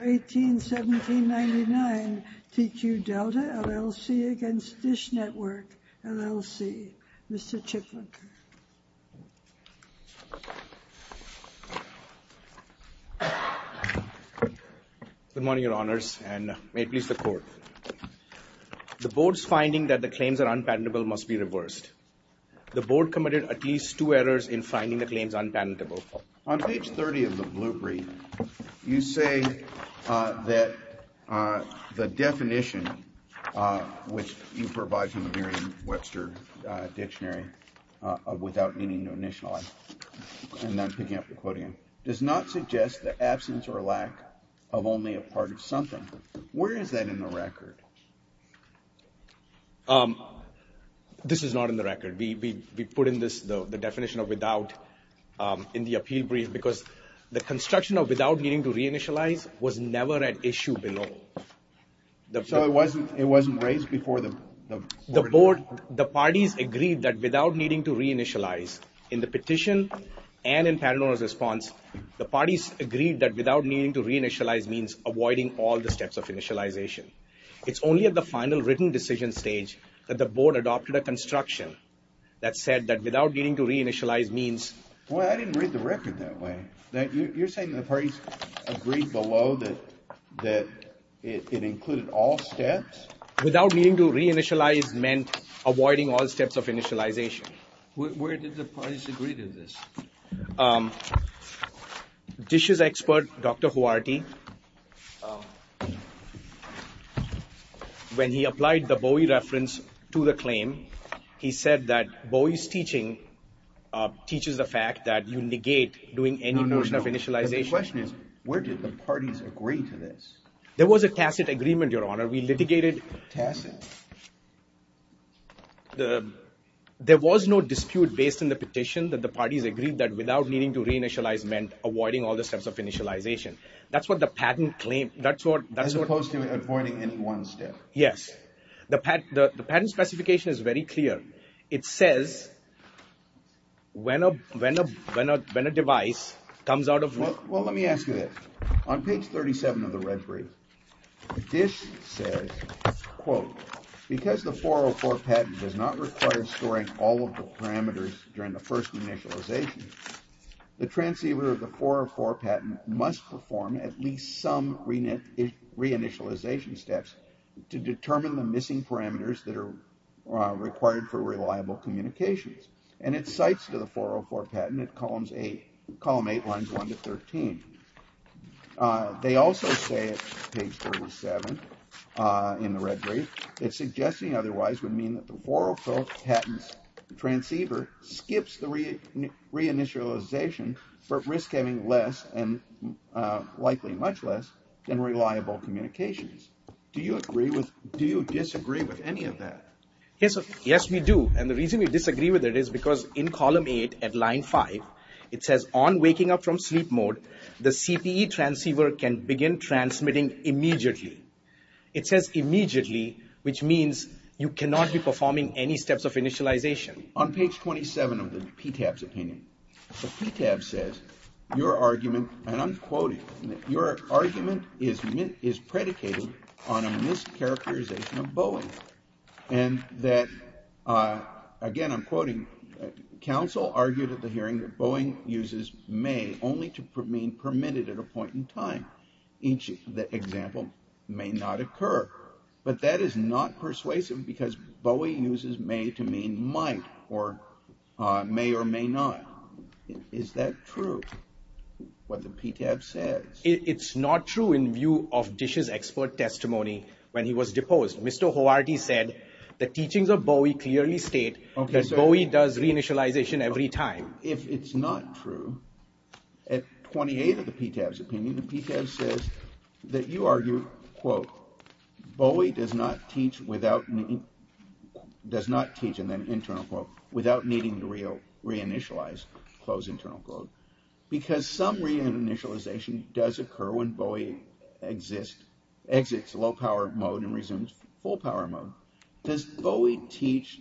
18-17-99 TQ Delta, LLC against DISH Network, LLC. Mr. Chitlak. Good morning, your honors, and may it please the court. The board's finding that the claims are unpenetrable must be reversed. The board committed at least two errors in finding the claims unpenetrable. On page 30 of the blue brief, you say that the definition, which you provide from the Merriam-Webster dictionary, without meaning to initialize, and I'm picking up the quote again, does not suggest the absence or lack of only a part of something. Where is that in the record? This is not in the record. We put in this the definition of without in the appeal brief because the construction of without meaning to reinitialize was never at issue below. So it wasn't raised before the board? The parties agreed that without needing to reinitialize, in the petition and in Paterno's response, the parties agreed that without needing to reinitialize means avoiding all the only at the final written decision stage that the board adopted a construction that said that without needing to reinitialize means. Well, I didn't read the record that way. You're saying the parties agreed below that it included all steps? Without needing to reinitialize meant avoiding all steps of initialization. Where did the parties agree to this? Dish's expert, Dr. Huarty, when he applied the Bowie reference to the claim, he said that Bowie's teaching teaches the fact that you negate doing any notion of initialization. The question is, where did the parties agree to this? There was a tacit agreement, your honor. We litigated. Tacit? There was no dispute based on the petition that the parties agreed that without needing to reinitialize meant avoiding all the steps of initialization. That's what the patent claimed. As opposed to avoiding any one step? Yes. The patent specification is very clear. It says when a device comes out of... Well, let me ask you this. On page 37 of the red brief, Dish says, quote, because the 404 patent does not require storing all of the parameters during the first initialization, the transceiver of the 404 patent must perform at least some reinitialization steps to determine the missing parameters that are required for reliable communications. And it cites to the 404 patent at column 8 lines 1 to 13. They also say at page 37 in the red brief, it's suggesting otherwise would mean that the 404 patent's transceiver skips the reinitialization for risk having less and likely much less than reliable communications. Do you disagree with column 8 at line 5? It says on waking up from sleep mode, the CPE transceiver can begin transmitting immediately. It says immediately, which means you cannot be performing any steps of initialization. On page 27 of the PTAB's opinion, the PTAB says your argument, and I'm quoting, your argument is predicated on a mischaracterization of Boeing. And that, again, I'm quoting, counsel argued at the hearing that Boeing uses may only to mean permitted at a point in time. Each example may not occur, but that is not persuasive because Boeing uses may to mean might or may or may not. Is that true? What the PTAB says? It's not true in view of Boeing clearly state that Boeing does reinitialization every time. If it's not true, at 28 of the PTAB's opinion, the PTAB says that you argue, quote, Boeing does not teach without, does not teach, and then internal quote, without needing to reinitialize, close internal quote, because some reinitialization does occur when Boeing exists, exits low power mode and resumes full power mode. Does Boeing teach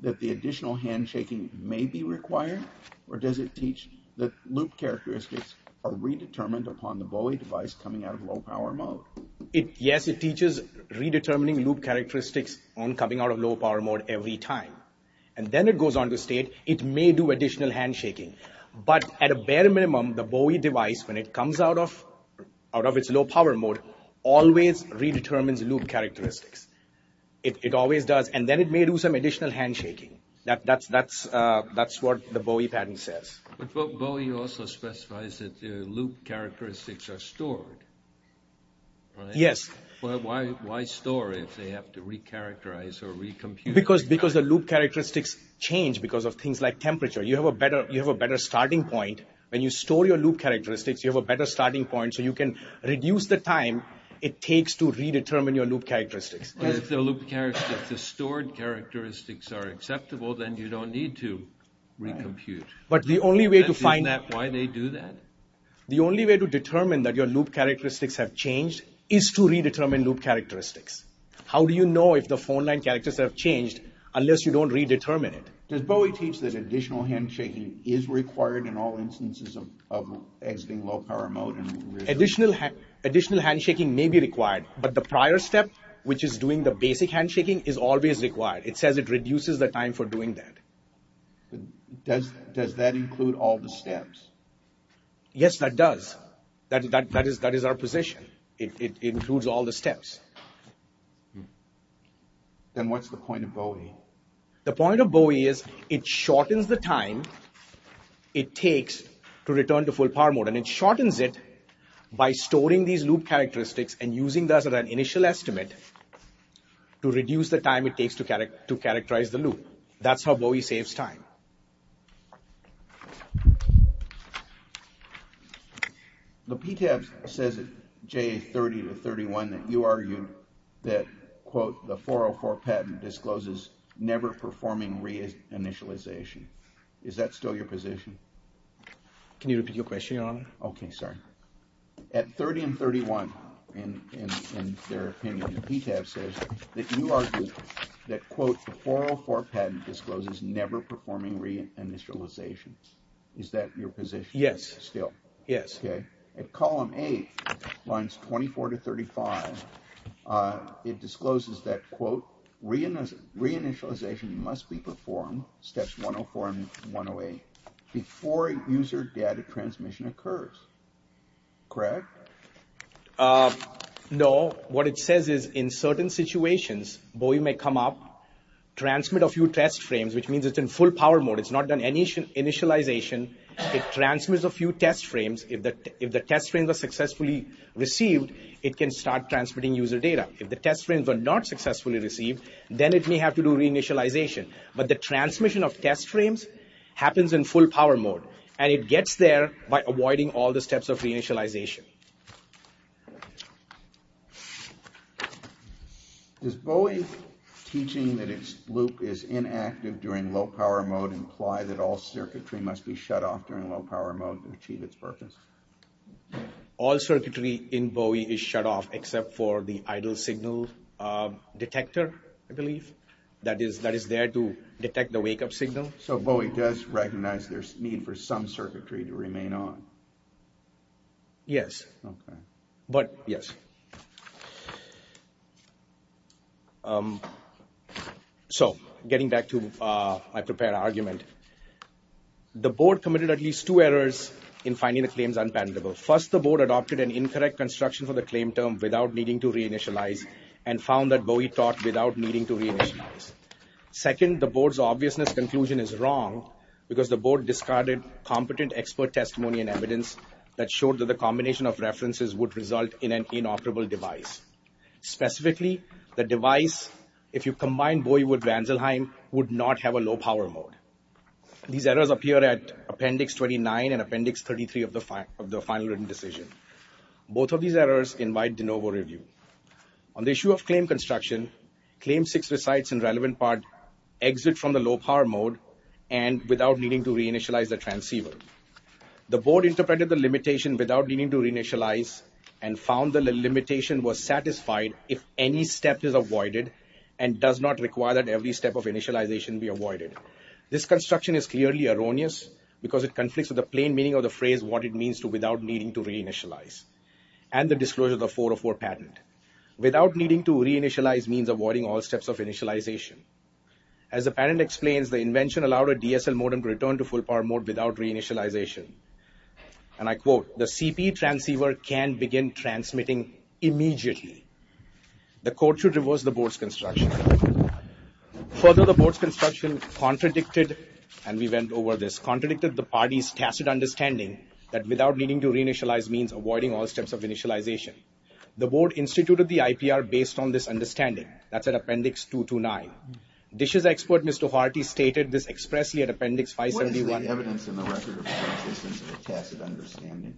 that the additional handshaking may be required, or does it teach that loop characteristics are redetermined upon the Boeing device coming out of low power mode? It, yes, it teaches redetermining loop characteristics on coming out of low power mode every time. And then it goes on to state it may do additional handshaking, but at a bare minimum, the Boeing device, when it comes out of, out of its low power mode, always redetermines loop characteristics. It, it always does. And then it may do some additional handshaking. That, that's, that's, that's what the Boeing pattern says. But, but Boeing also specifies that loop characteristics are stored, right? Yes. Well, why, why store if they have to recharacterize or recompute? Because, because the loop characteristics change because of things like temperature. You have a better, you have a better starting point. When you store your loop characteristics, you have a better starting point, so you can reduce the time it takes to redetermine your loop characteristics. If the loop characteristics, the stored characteristics are acceptable, then you don't need to recompute. But the only way to find that. Why they do that? The only way to determine that your loop characteristics have changed is to redetermine loop characteristics. How do you know if the phone line characters have changed unless you don't redetermine it? Does Boeing teach that additional handshaking is required in all instances of, of exiting low power mode? Additional, additional handshaking may be required, but the prior step, which is doing the basic handshaking, is always required. It says it reduces the time for doing that. Does, does that include all the steps? Yes, that does. That, that, that is, that is our position. It, it includes all the steps. Then what's the point of Boeing? The point of Boeing is it shortens the time it takes to return to full power mode, and it shortens it by storing these loop characteristics and using that as an initial estimate to reduce the time it takes to characterize the loop. That's how Boeing saves time. The PTAB says at JA30 to 31 that you argue that, quote, the 404 patent discloses never performing reinitialization. Is that still your position? Can you repeat your question, Your Honor? Okay, sorry. At 30 and 31, in, in, in their opinion, the PTAB says that you argue that, quote, the Is that your position? Yes. Still? Yes. Okay. At column eight, lines 24 to 35, it discloses that, quote, reinitialization must be performed, steps 104 and 108, before user data transmission occurs. Correct? No. What it says is in certain situations, Boeing may come up, transmit a few test frames, which means it's in full power mode. It's not done initial, initialization. It transmits a few test frames. If the, if the test frames are successfully received, it can start transmitting user data. If the test frames are not successfully received, then it may have to do reinitialization. But the transmission of test frames happens in full power mode, and it gets there by avoiding all the steps of reinitialization. Okay. Does Boeing teaching that its loop is inactive during low power mode imply that all circuitry must be shut off during low power mode to achieve its purpose? All circuitry in Boeing is shut off except for the idle signal detector, I believe, that is, that is there to detect the wake up signal. So Boeing does recognize there's need for some circuitry to remain on? Yes. Okay. But, yes. So getting back to my prepared argument, the board committed at least two errors in finding the claims unpalatable. First, the board adopted an incorrect construction for the claim term without needing to reinitialize and found that Boeing taught without needing to reinitialize. Second, the board's obviousness conclusion is wrong because the board discarded competent expert testimony and evidence that showed that the combination of references would result in an inoperable device. Specifically, the device, if you combine Boeing with Vanzelheim, would not have a low power mode. These errors appear at Appendix 29 and Appendix 33 of the final written decision. Both of these errors invite de novo review. On the issue of claim construction, claim six recites in relevant part exit from the low power mode and without needing to reinitialize the transceiver. The board interpreted the limitation without needing to reinitialize and found the limitation was satisfied if any step is avoided and does not require that every step of initialization be avoided. This construction is clearly erroneous because it conflicts with the plain meaning of the phrase what it means to without needing to reinitialize and the disclosure of the 404 patent. Without needing to reinitialize means avoiding all steps of initialization. As the patent explains, the invention allowed a DSL modem to return to full power mode without reinitialization. And I quote, the CP transceiver can begin transmitting immediately. The court should reverse the board's construction. Further, the board's construction contradicted, and we went over this, contradicted the party's tacit understanding that without needing to reinitialize means avoiding all steps of initialization. The board instituted the IPR based on this understanding. That's at appendix 229. DISH's expert, Mr. Harty, stated this expressly at appendix 571.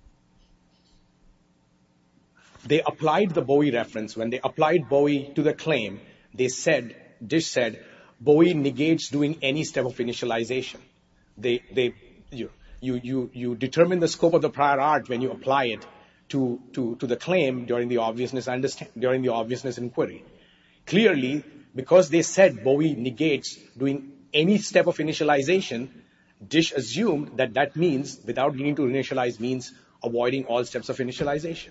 They applied the Bowie reference. When they applied Bowie to the claim, they said, DISH said, Bowie negates doing any step of initialization. You determine the scope of the prior art when you apply it to the claim during the obviousness inquiry. Clearly, because they said Bowie negates doing any step of initialization, DISH assumed that that means, without needing to initialize, means avoiding all steps of initialization.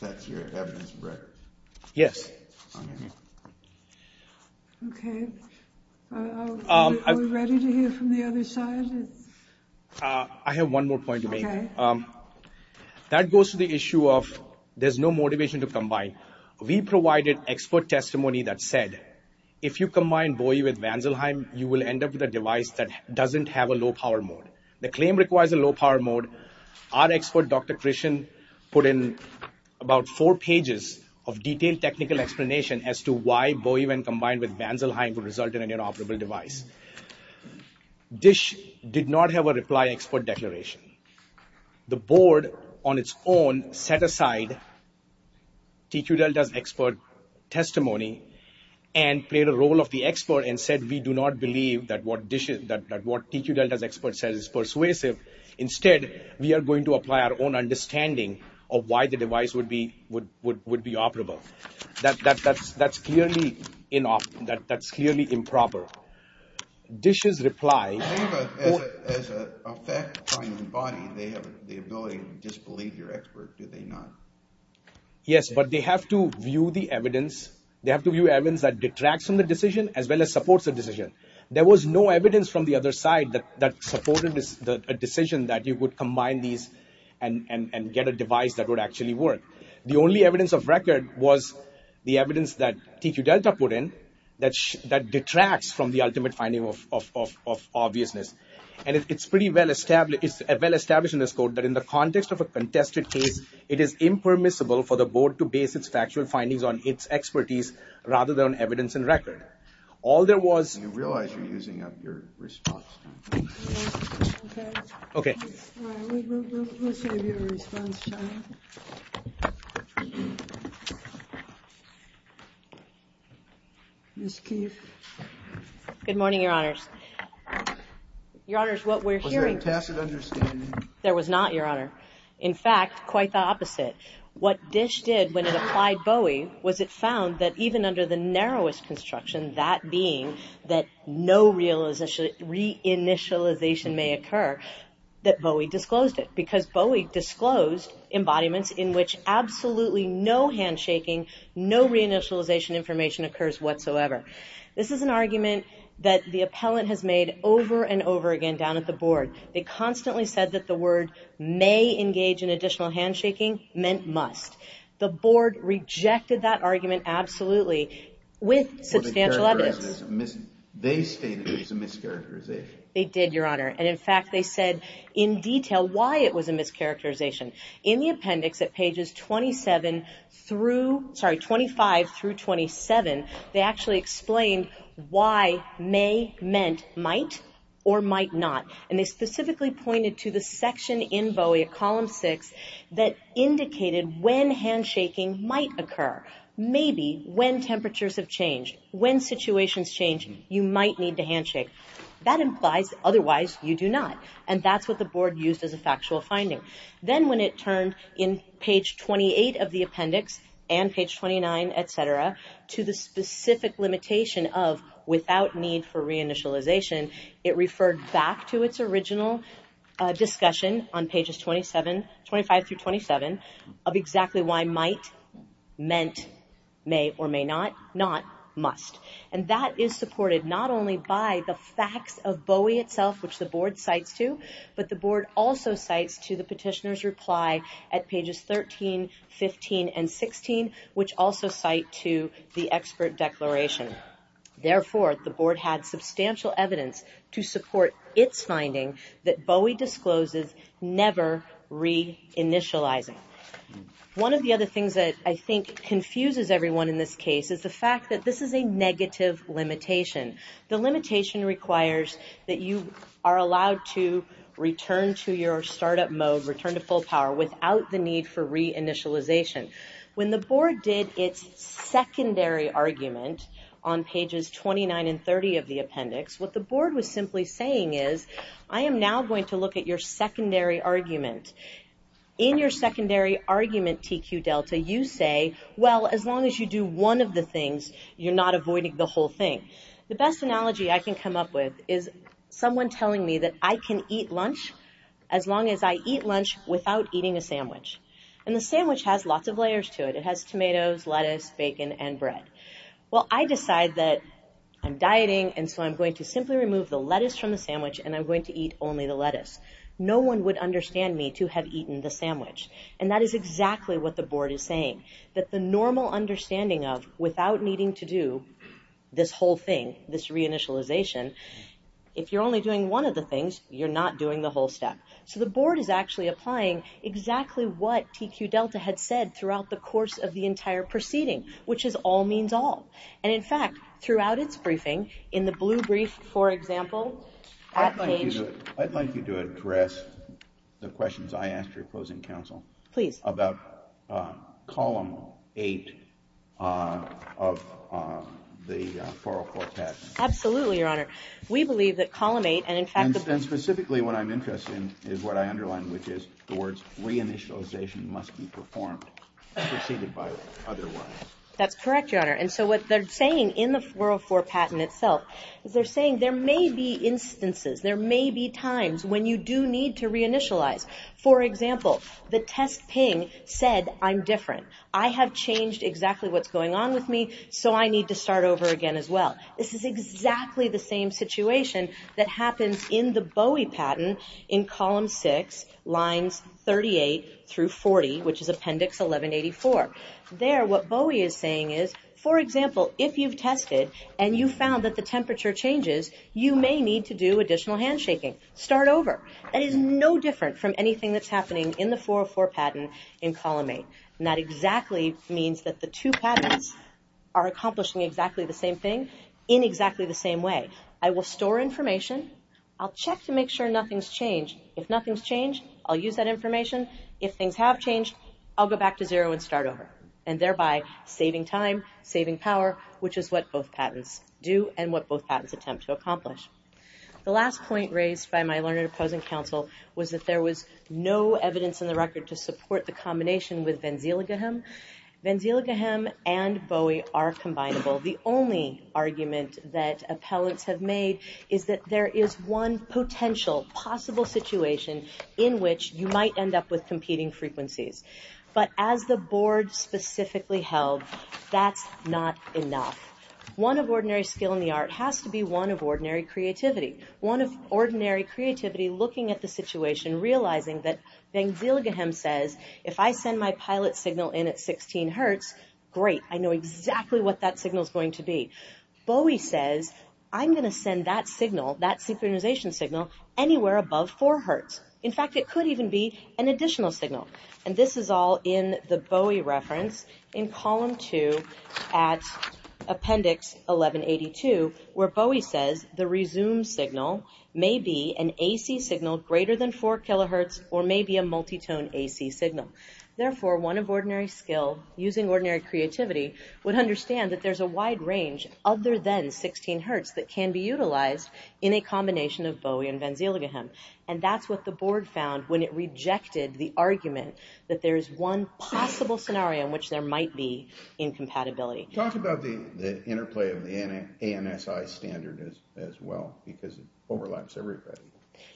That's your evidence, Brett? Yes. Okay. Are we ready to hear from the other side? I have one more point to make. That goes to the issue of there's no motivation to combine. We provided expert testimony that said, if you combine Bowie with Vanselheim, you will end up with a device that doesn't have a low power mode. The claim requires a low power mode. Our expert, Dr. Christian, put in about four pages of detailed technical explanation as to why Bowie, when combined with Vanselheim, would result in an inoperable device. DISH did not have a reply expert declaration. The board, on its own, set aside TQ Delta's expert testimony and played a role of the expert and said, we do not believe that what TQ Delta's expert says is persuasive. Instead, we are going to apply our own understanding of why the device would be operable. That's clearly improper. DISH's reply... I think as a fact-finding body, they have the ability to disbelieve your expert, do they not? Yes, but they have to view the evidence. They have to view evidence that detracts from the decision as well as supports the decision. There was no evidence from the other side that supported the decision that you would combine these and get a device that would actually work. The only evidence of record was the evidence that TQ Delta put in that detracts from the ultimate finding of obviousness. And it's pretty well established in this code that in the context of a contested case, it is impermissible for the board to base its factual findings on its expertise rather than evidence and record. All there was... You realize you're using up your response time. Okay. All right, we'll save your response time. Ms. Keefe. Good morning, Your Honors. Your Honors, what we're hearing... Was there a tacit understanding? There was not, Your Honor. In fact, quite the opposite. What DISH did when it applied BOEY was it found that even under the narrowest construction, that being that no reinitialization may occur, that BOEY disclosed it. Because BOEY disclosed embodiments in which absolutely no handshaking, no reinitialization information occurs whatsoever. This is an argument that the appellant has made over and over again down at the board. They constantly said that the word may engage in additional handshaking meant must. The board rejected that argument absolutely with substantial evidence. They stated it was a mischaracterization. They did, Your Honor. And in fact, they said in detail why it was a mischaracterization. In the appendix at pages 27 through... Sorry, 25 through 27, they actually explained why may meant might or might not. And they specifically pointed to the section in BOEY at column six that indicated when handshaking might occur. Maybe when temperatures have changed, when situations change, you might need to handshake. That implies otherwise you do not. And that's what the board used as a factual finding. Then when it turned in page 28 of the appendix and page 29, et cetera, to the specific limitation of without need for reinitialization, it referred back to its original discussion on pages 25 through 27 of exactly why might meant may or may not, not must. And that is supported not only by the facts of BOEY itself, which the board cites to, but the board also cites to the petitioner's reply at pages 13, 15, and 16, which also cite to the expert declaration. Therefore, the board had substantial evidence to support its finding that BOEY discloses never reinitializing. One of the other things that I think confuses everyone in this case is the fact that this is a negative limitation. The limitation requires that you are allowed to return to your startup mode, return to full power, without the need for reinitialization. When the board did its secondary argument on pages 29 and 30 of the appendix, what the board was simply saying is, I am now going to look at your secondary argument. In your secondary argument, TQ Delta, you say, well, as long as you do one of the things, you're not avoiding the whole thing. The best analogy I can come up with is someone telling me that I can eat lunch as long as I eat lunch without eating a sandwich. And the sandwich has lots of layers to it. It has tomatoes, lettuce, bacon, and bread. Well, I decide that I'm dieting, and so I'm going to simply remove the lettuce from the sandwich, and I'm going to eat only the lettuce. No one would understand me to have eaten the sandwich. And that is exactly what the board is saying, that the normal understanding of without needing to do this whole thing, this reinitialization, if you're only doing one of the things, you're not doing the whole step. So the board is actually applying exactly what TQ Delta had said throughout the course of the entire proceeding, which is all means all. And in fact, throughout its briefing, in the blue brief, for example, at the page. I'd like you to address the questions I asked your opposing counsel. Please. About Column 8 of the Foro Cortex. Absolutely, Your Honor. We believe that Column 8, and in fact- And specifically what I'm interested in is what I underlined, which is the words reinitialization must be performed, preceded by otherwise. That's correct, Your Honor. And so what they're saying in the 404 patent itself, is they're saying there may be instances, there may be times when you do need to reinitialize. For example, the test ping said, I'm different. I have changed exactly what's going on with me, so I need to start over again as well. This is exactly the same situation that happens in the which is Appendix 1184. There, what Bowie is saying is, for example, if you've tested and you found that the temperature changes, you may need to do additional handshaking. Start over. That is no different from anything that's happening in the 404 patent in Column 8. And that exactly means that the two patents are accomplishing exactly the same thing in exactly the same way. I will store information. I'll check to make sure nothing's changed. If nothing's changed, I'll use that information. If things have changed, I'll go back to zero and start over. And thereby, saving time, saving power, which is what both patents do and what both patents attempt to accomplish. The last point raised by my learned opposing counsel was that there was no evidence in the record to support the combination with Vanziligahem. Vanziligahem and Bowie are which you might end up with competing frequencies. But as the board specifically held, that's not enough. One of ordinary skill in the art has to be one of ordinary creativity. One of ordinary creativity, looking at the situation, realizing that Vanziligahem says, if I send my pilot signal in at 16 hertz, great. I know exactly what that signal is going to be. Bowie says, I'm going to send that signal, that synchronization signal anywhere above four hertz. In fact, it could even be an additional signal. And this is all in the Bowie reference in column two at appendix 1182, where Bowie says the resume signal may be an AC signal greater than four kilohertz or maybe a multitone AC signal. Therefore, one of ordinary skill using ordinary creativity would understand that there's a wide range other than 16 hertz that can be utilized in a combination of Bowie and Vanziligahem. And that's what the board found when it rejected the argument that there is one possible scenario in which there might be incompatibility. Talk about the interplay of the ANSI standard as well, because it overlaps everybody.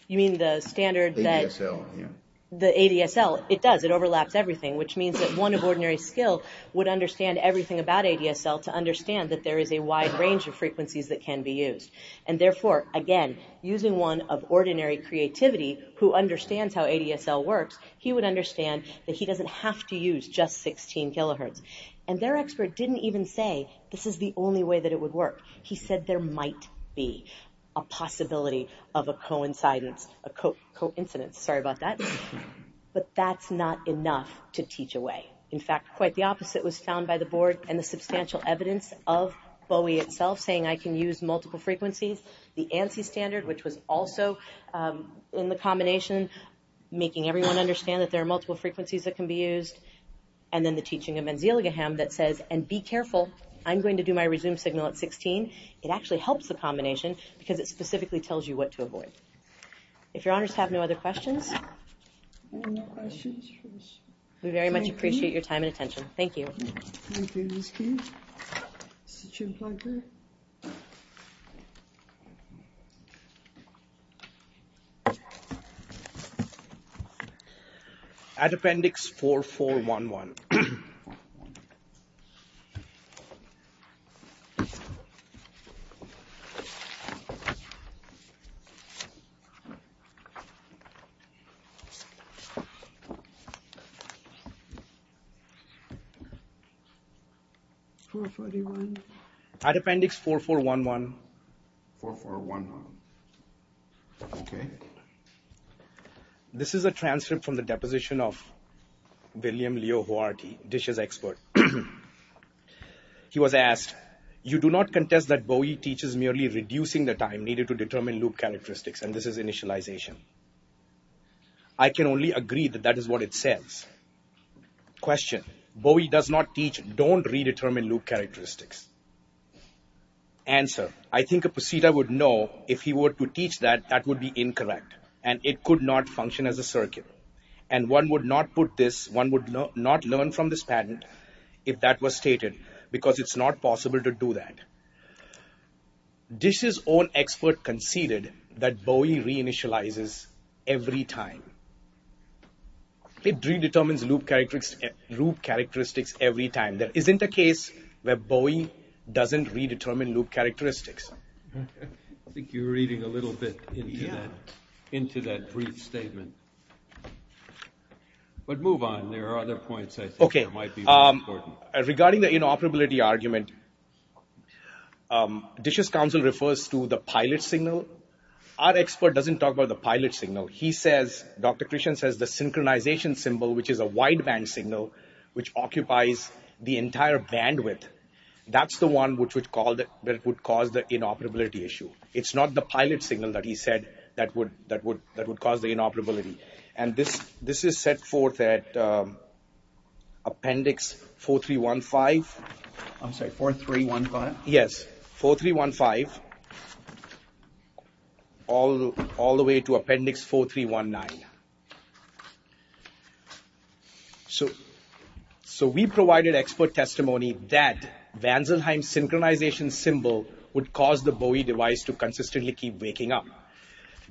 You mean the standard that... ADSL, yeah. The ADSL, it does. It overlaps everything, which means that one of ordinary skill would understand everything about ADSL to understand that there is a wide range of frequencies that can be used. And therefore, again, using one of ordinary creativity who understands how ADSL works, he would understand that he doesn't have to use just 16 kilohertz. And their expert didn't even say this is the only way that it would work. He said there might be a possibility of a coincidence. Sorry about that. But that's not enough to teach away. In fact, quite the opposite was found by the board and the substantial evidence of Bowie itself, saying I can use multiple frequencies. The ANSI standard, which was also in the combination, making everyone understand that there are multiple frequencies that can be used. And then the teaching of Vanziligahem that says, and be careful, I'm going to do my resume signal at 16. It actually helps the combination because it specifically tells you what to avoid. If your honors have no other questions. No questions. We very much appreciate your time and attention. Thank you. Add appendix 4411. 4411, okay. This is a transcript from the deposition of William Leo Hoarty, DISH's expert. He was asked, you do not contest that Bowie teaches merely reducing the time needed to determine loop characteristics. And this is initialization. I can only agree that that is what it says. Question. Bowie does not teach, don't redetermine loop characteristics. Answer. I think a procedure would know if he were to teach that that would be incorrect and it could not function as a circuit. And one would not put this, one would not learn from this patent if that was stated, because it's not possible to do that. DISH's own expert conceded that Bowie reinitializes every time. It redetermines loop characteristics every time. There isn't a case where Bowie doesn't redetermine loop characteristics. I think you're reading a little bit into that brief statement. But move on. There are other points I think that might be important. Regarding the inoperability argument, DISH's counsel refers to the pilot signal. Our expert doesn't talk about the pilot signal. He says, Dr. Christian says, the synchronization symbol, which is a wideband signal, which occupies the entire bandwidth, that's the one which would cause the inoperability issue. It's not the pilot signal that he said that would cause the inoperability. And this is set forth at 4315. I'm sorry, 4315? Yes, 4315, all the way to Appendix 4319. So we provided expert testimony that Vanzelheim's synchronization symbol would cause the Bowie device to consistently keep waking up.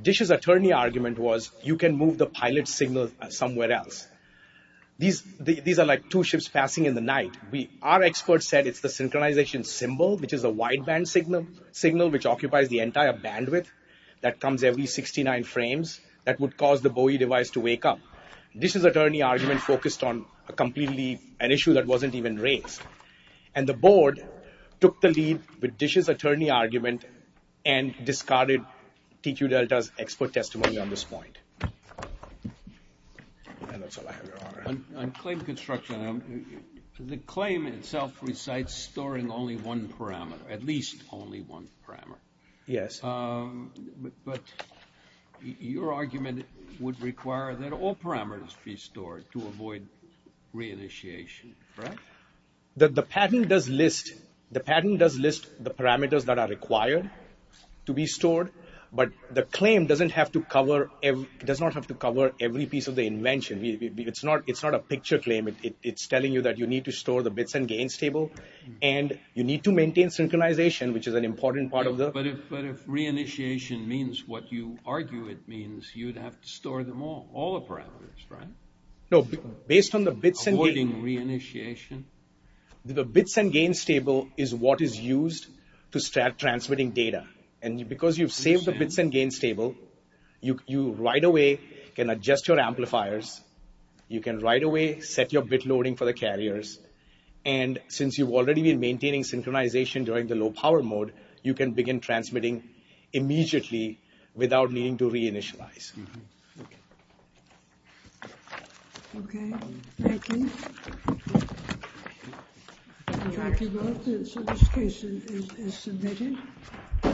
DISH's attorney argument was, you can move the pilot signal somewhere else. These are like two ships passing in the night. Our expert said it's the synchronization symbol, which is a wideband signal, which occupies the entire bandwidth that comes every 69 frames that would cause the Bowie device to wake up. DISH's attorney argument focused on a completely, an issue that wasn't even raised. And the board took the lead with DISH's attorney argument and discarded TQ Delta's expert testimony on this point. And that's all I have, Your Honor. On claim construction, the claim itself recites storing only one parameter, at least only one parameter. Yes. But your argument would require that all parameters be stored to avoid reinitiation, correct? The patent does list the parameters that are required to be stored, but the claim doesn't have to cover, does not have to cover every piece of the invention. It's not, it's not a picture claim. It's telling you that you need to store the bits and gains table and you need to maintain synchronization, which is an important part of the... But if reinitiation means what you argue it means, you'd have to store them all, all the parameters, right? No, based on the bits and gains... Avoiding reinitiation. The bits and gains table is what is used to start transmitting data. And because you've saved the data, you can adjust your amplifiers. You can right away set your bit loading for the carriers. And since you've already been maintaining synchronization during the low power mode, you can begin transmitting immediately without needing to reinitialize. Okay. Thank you.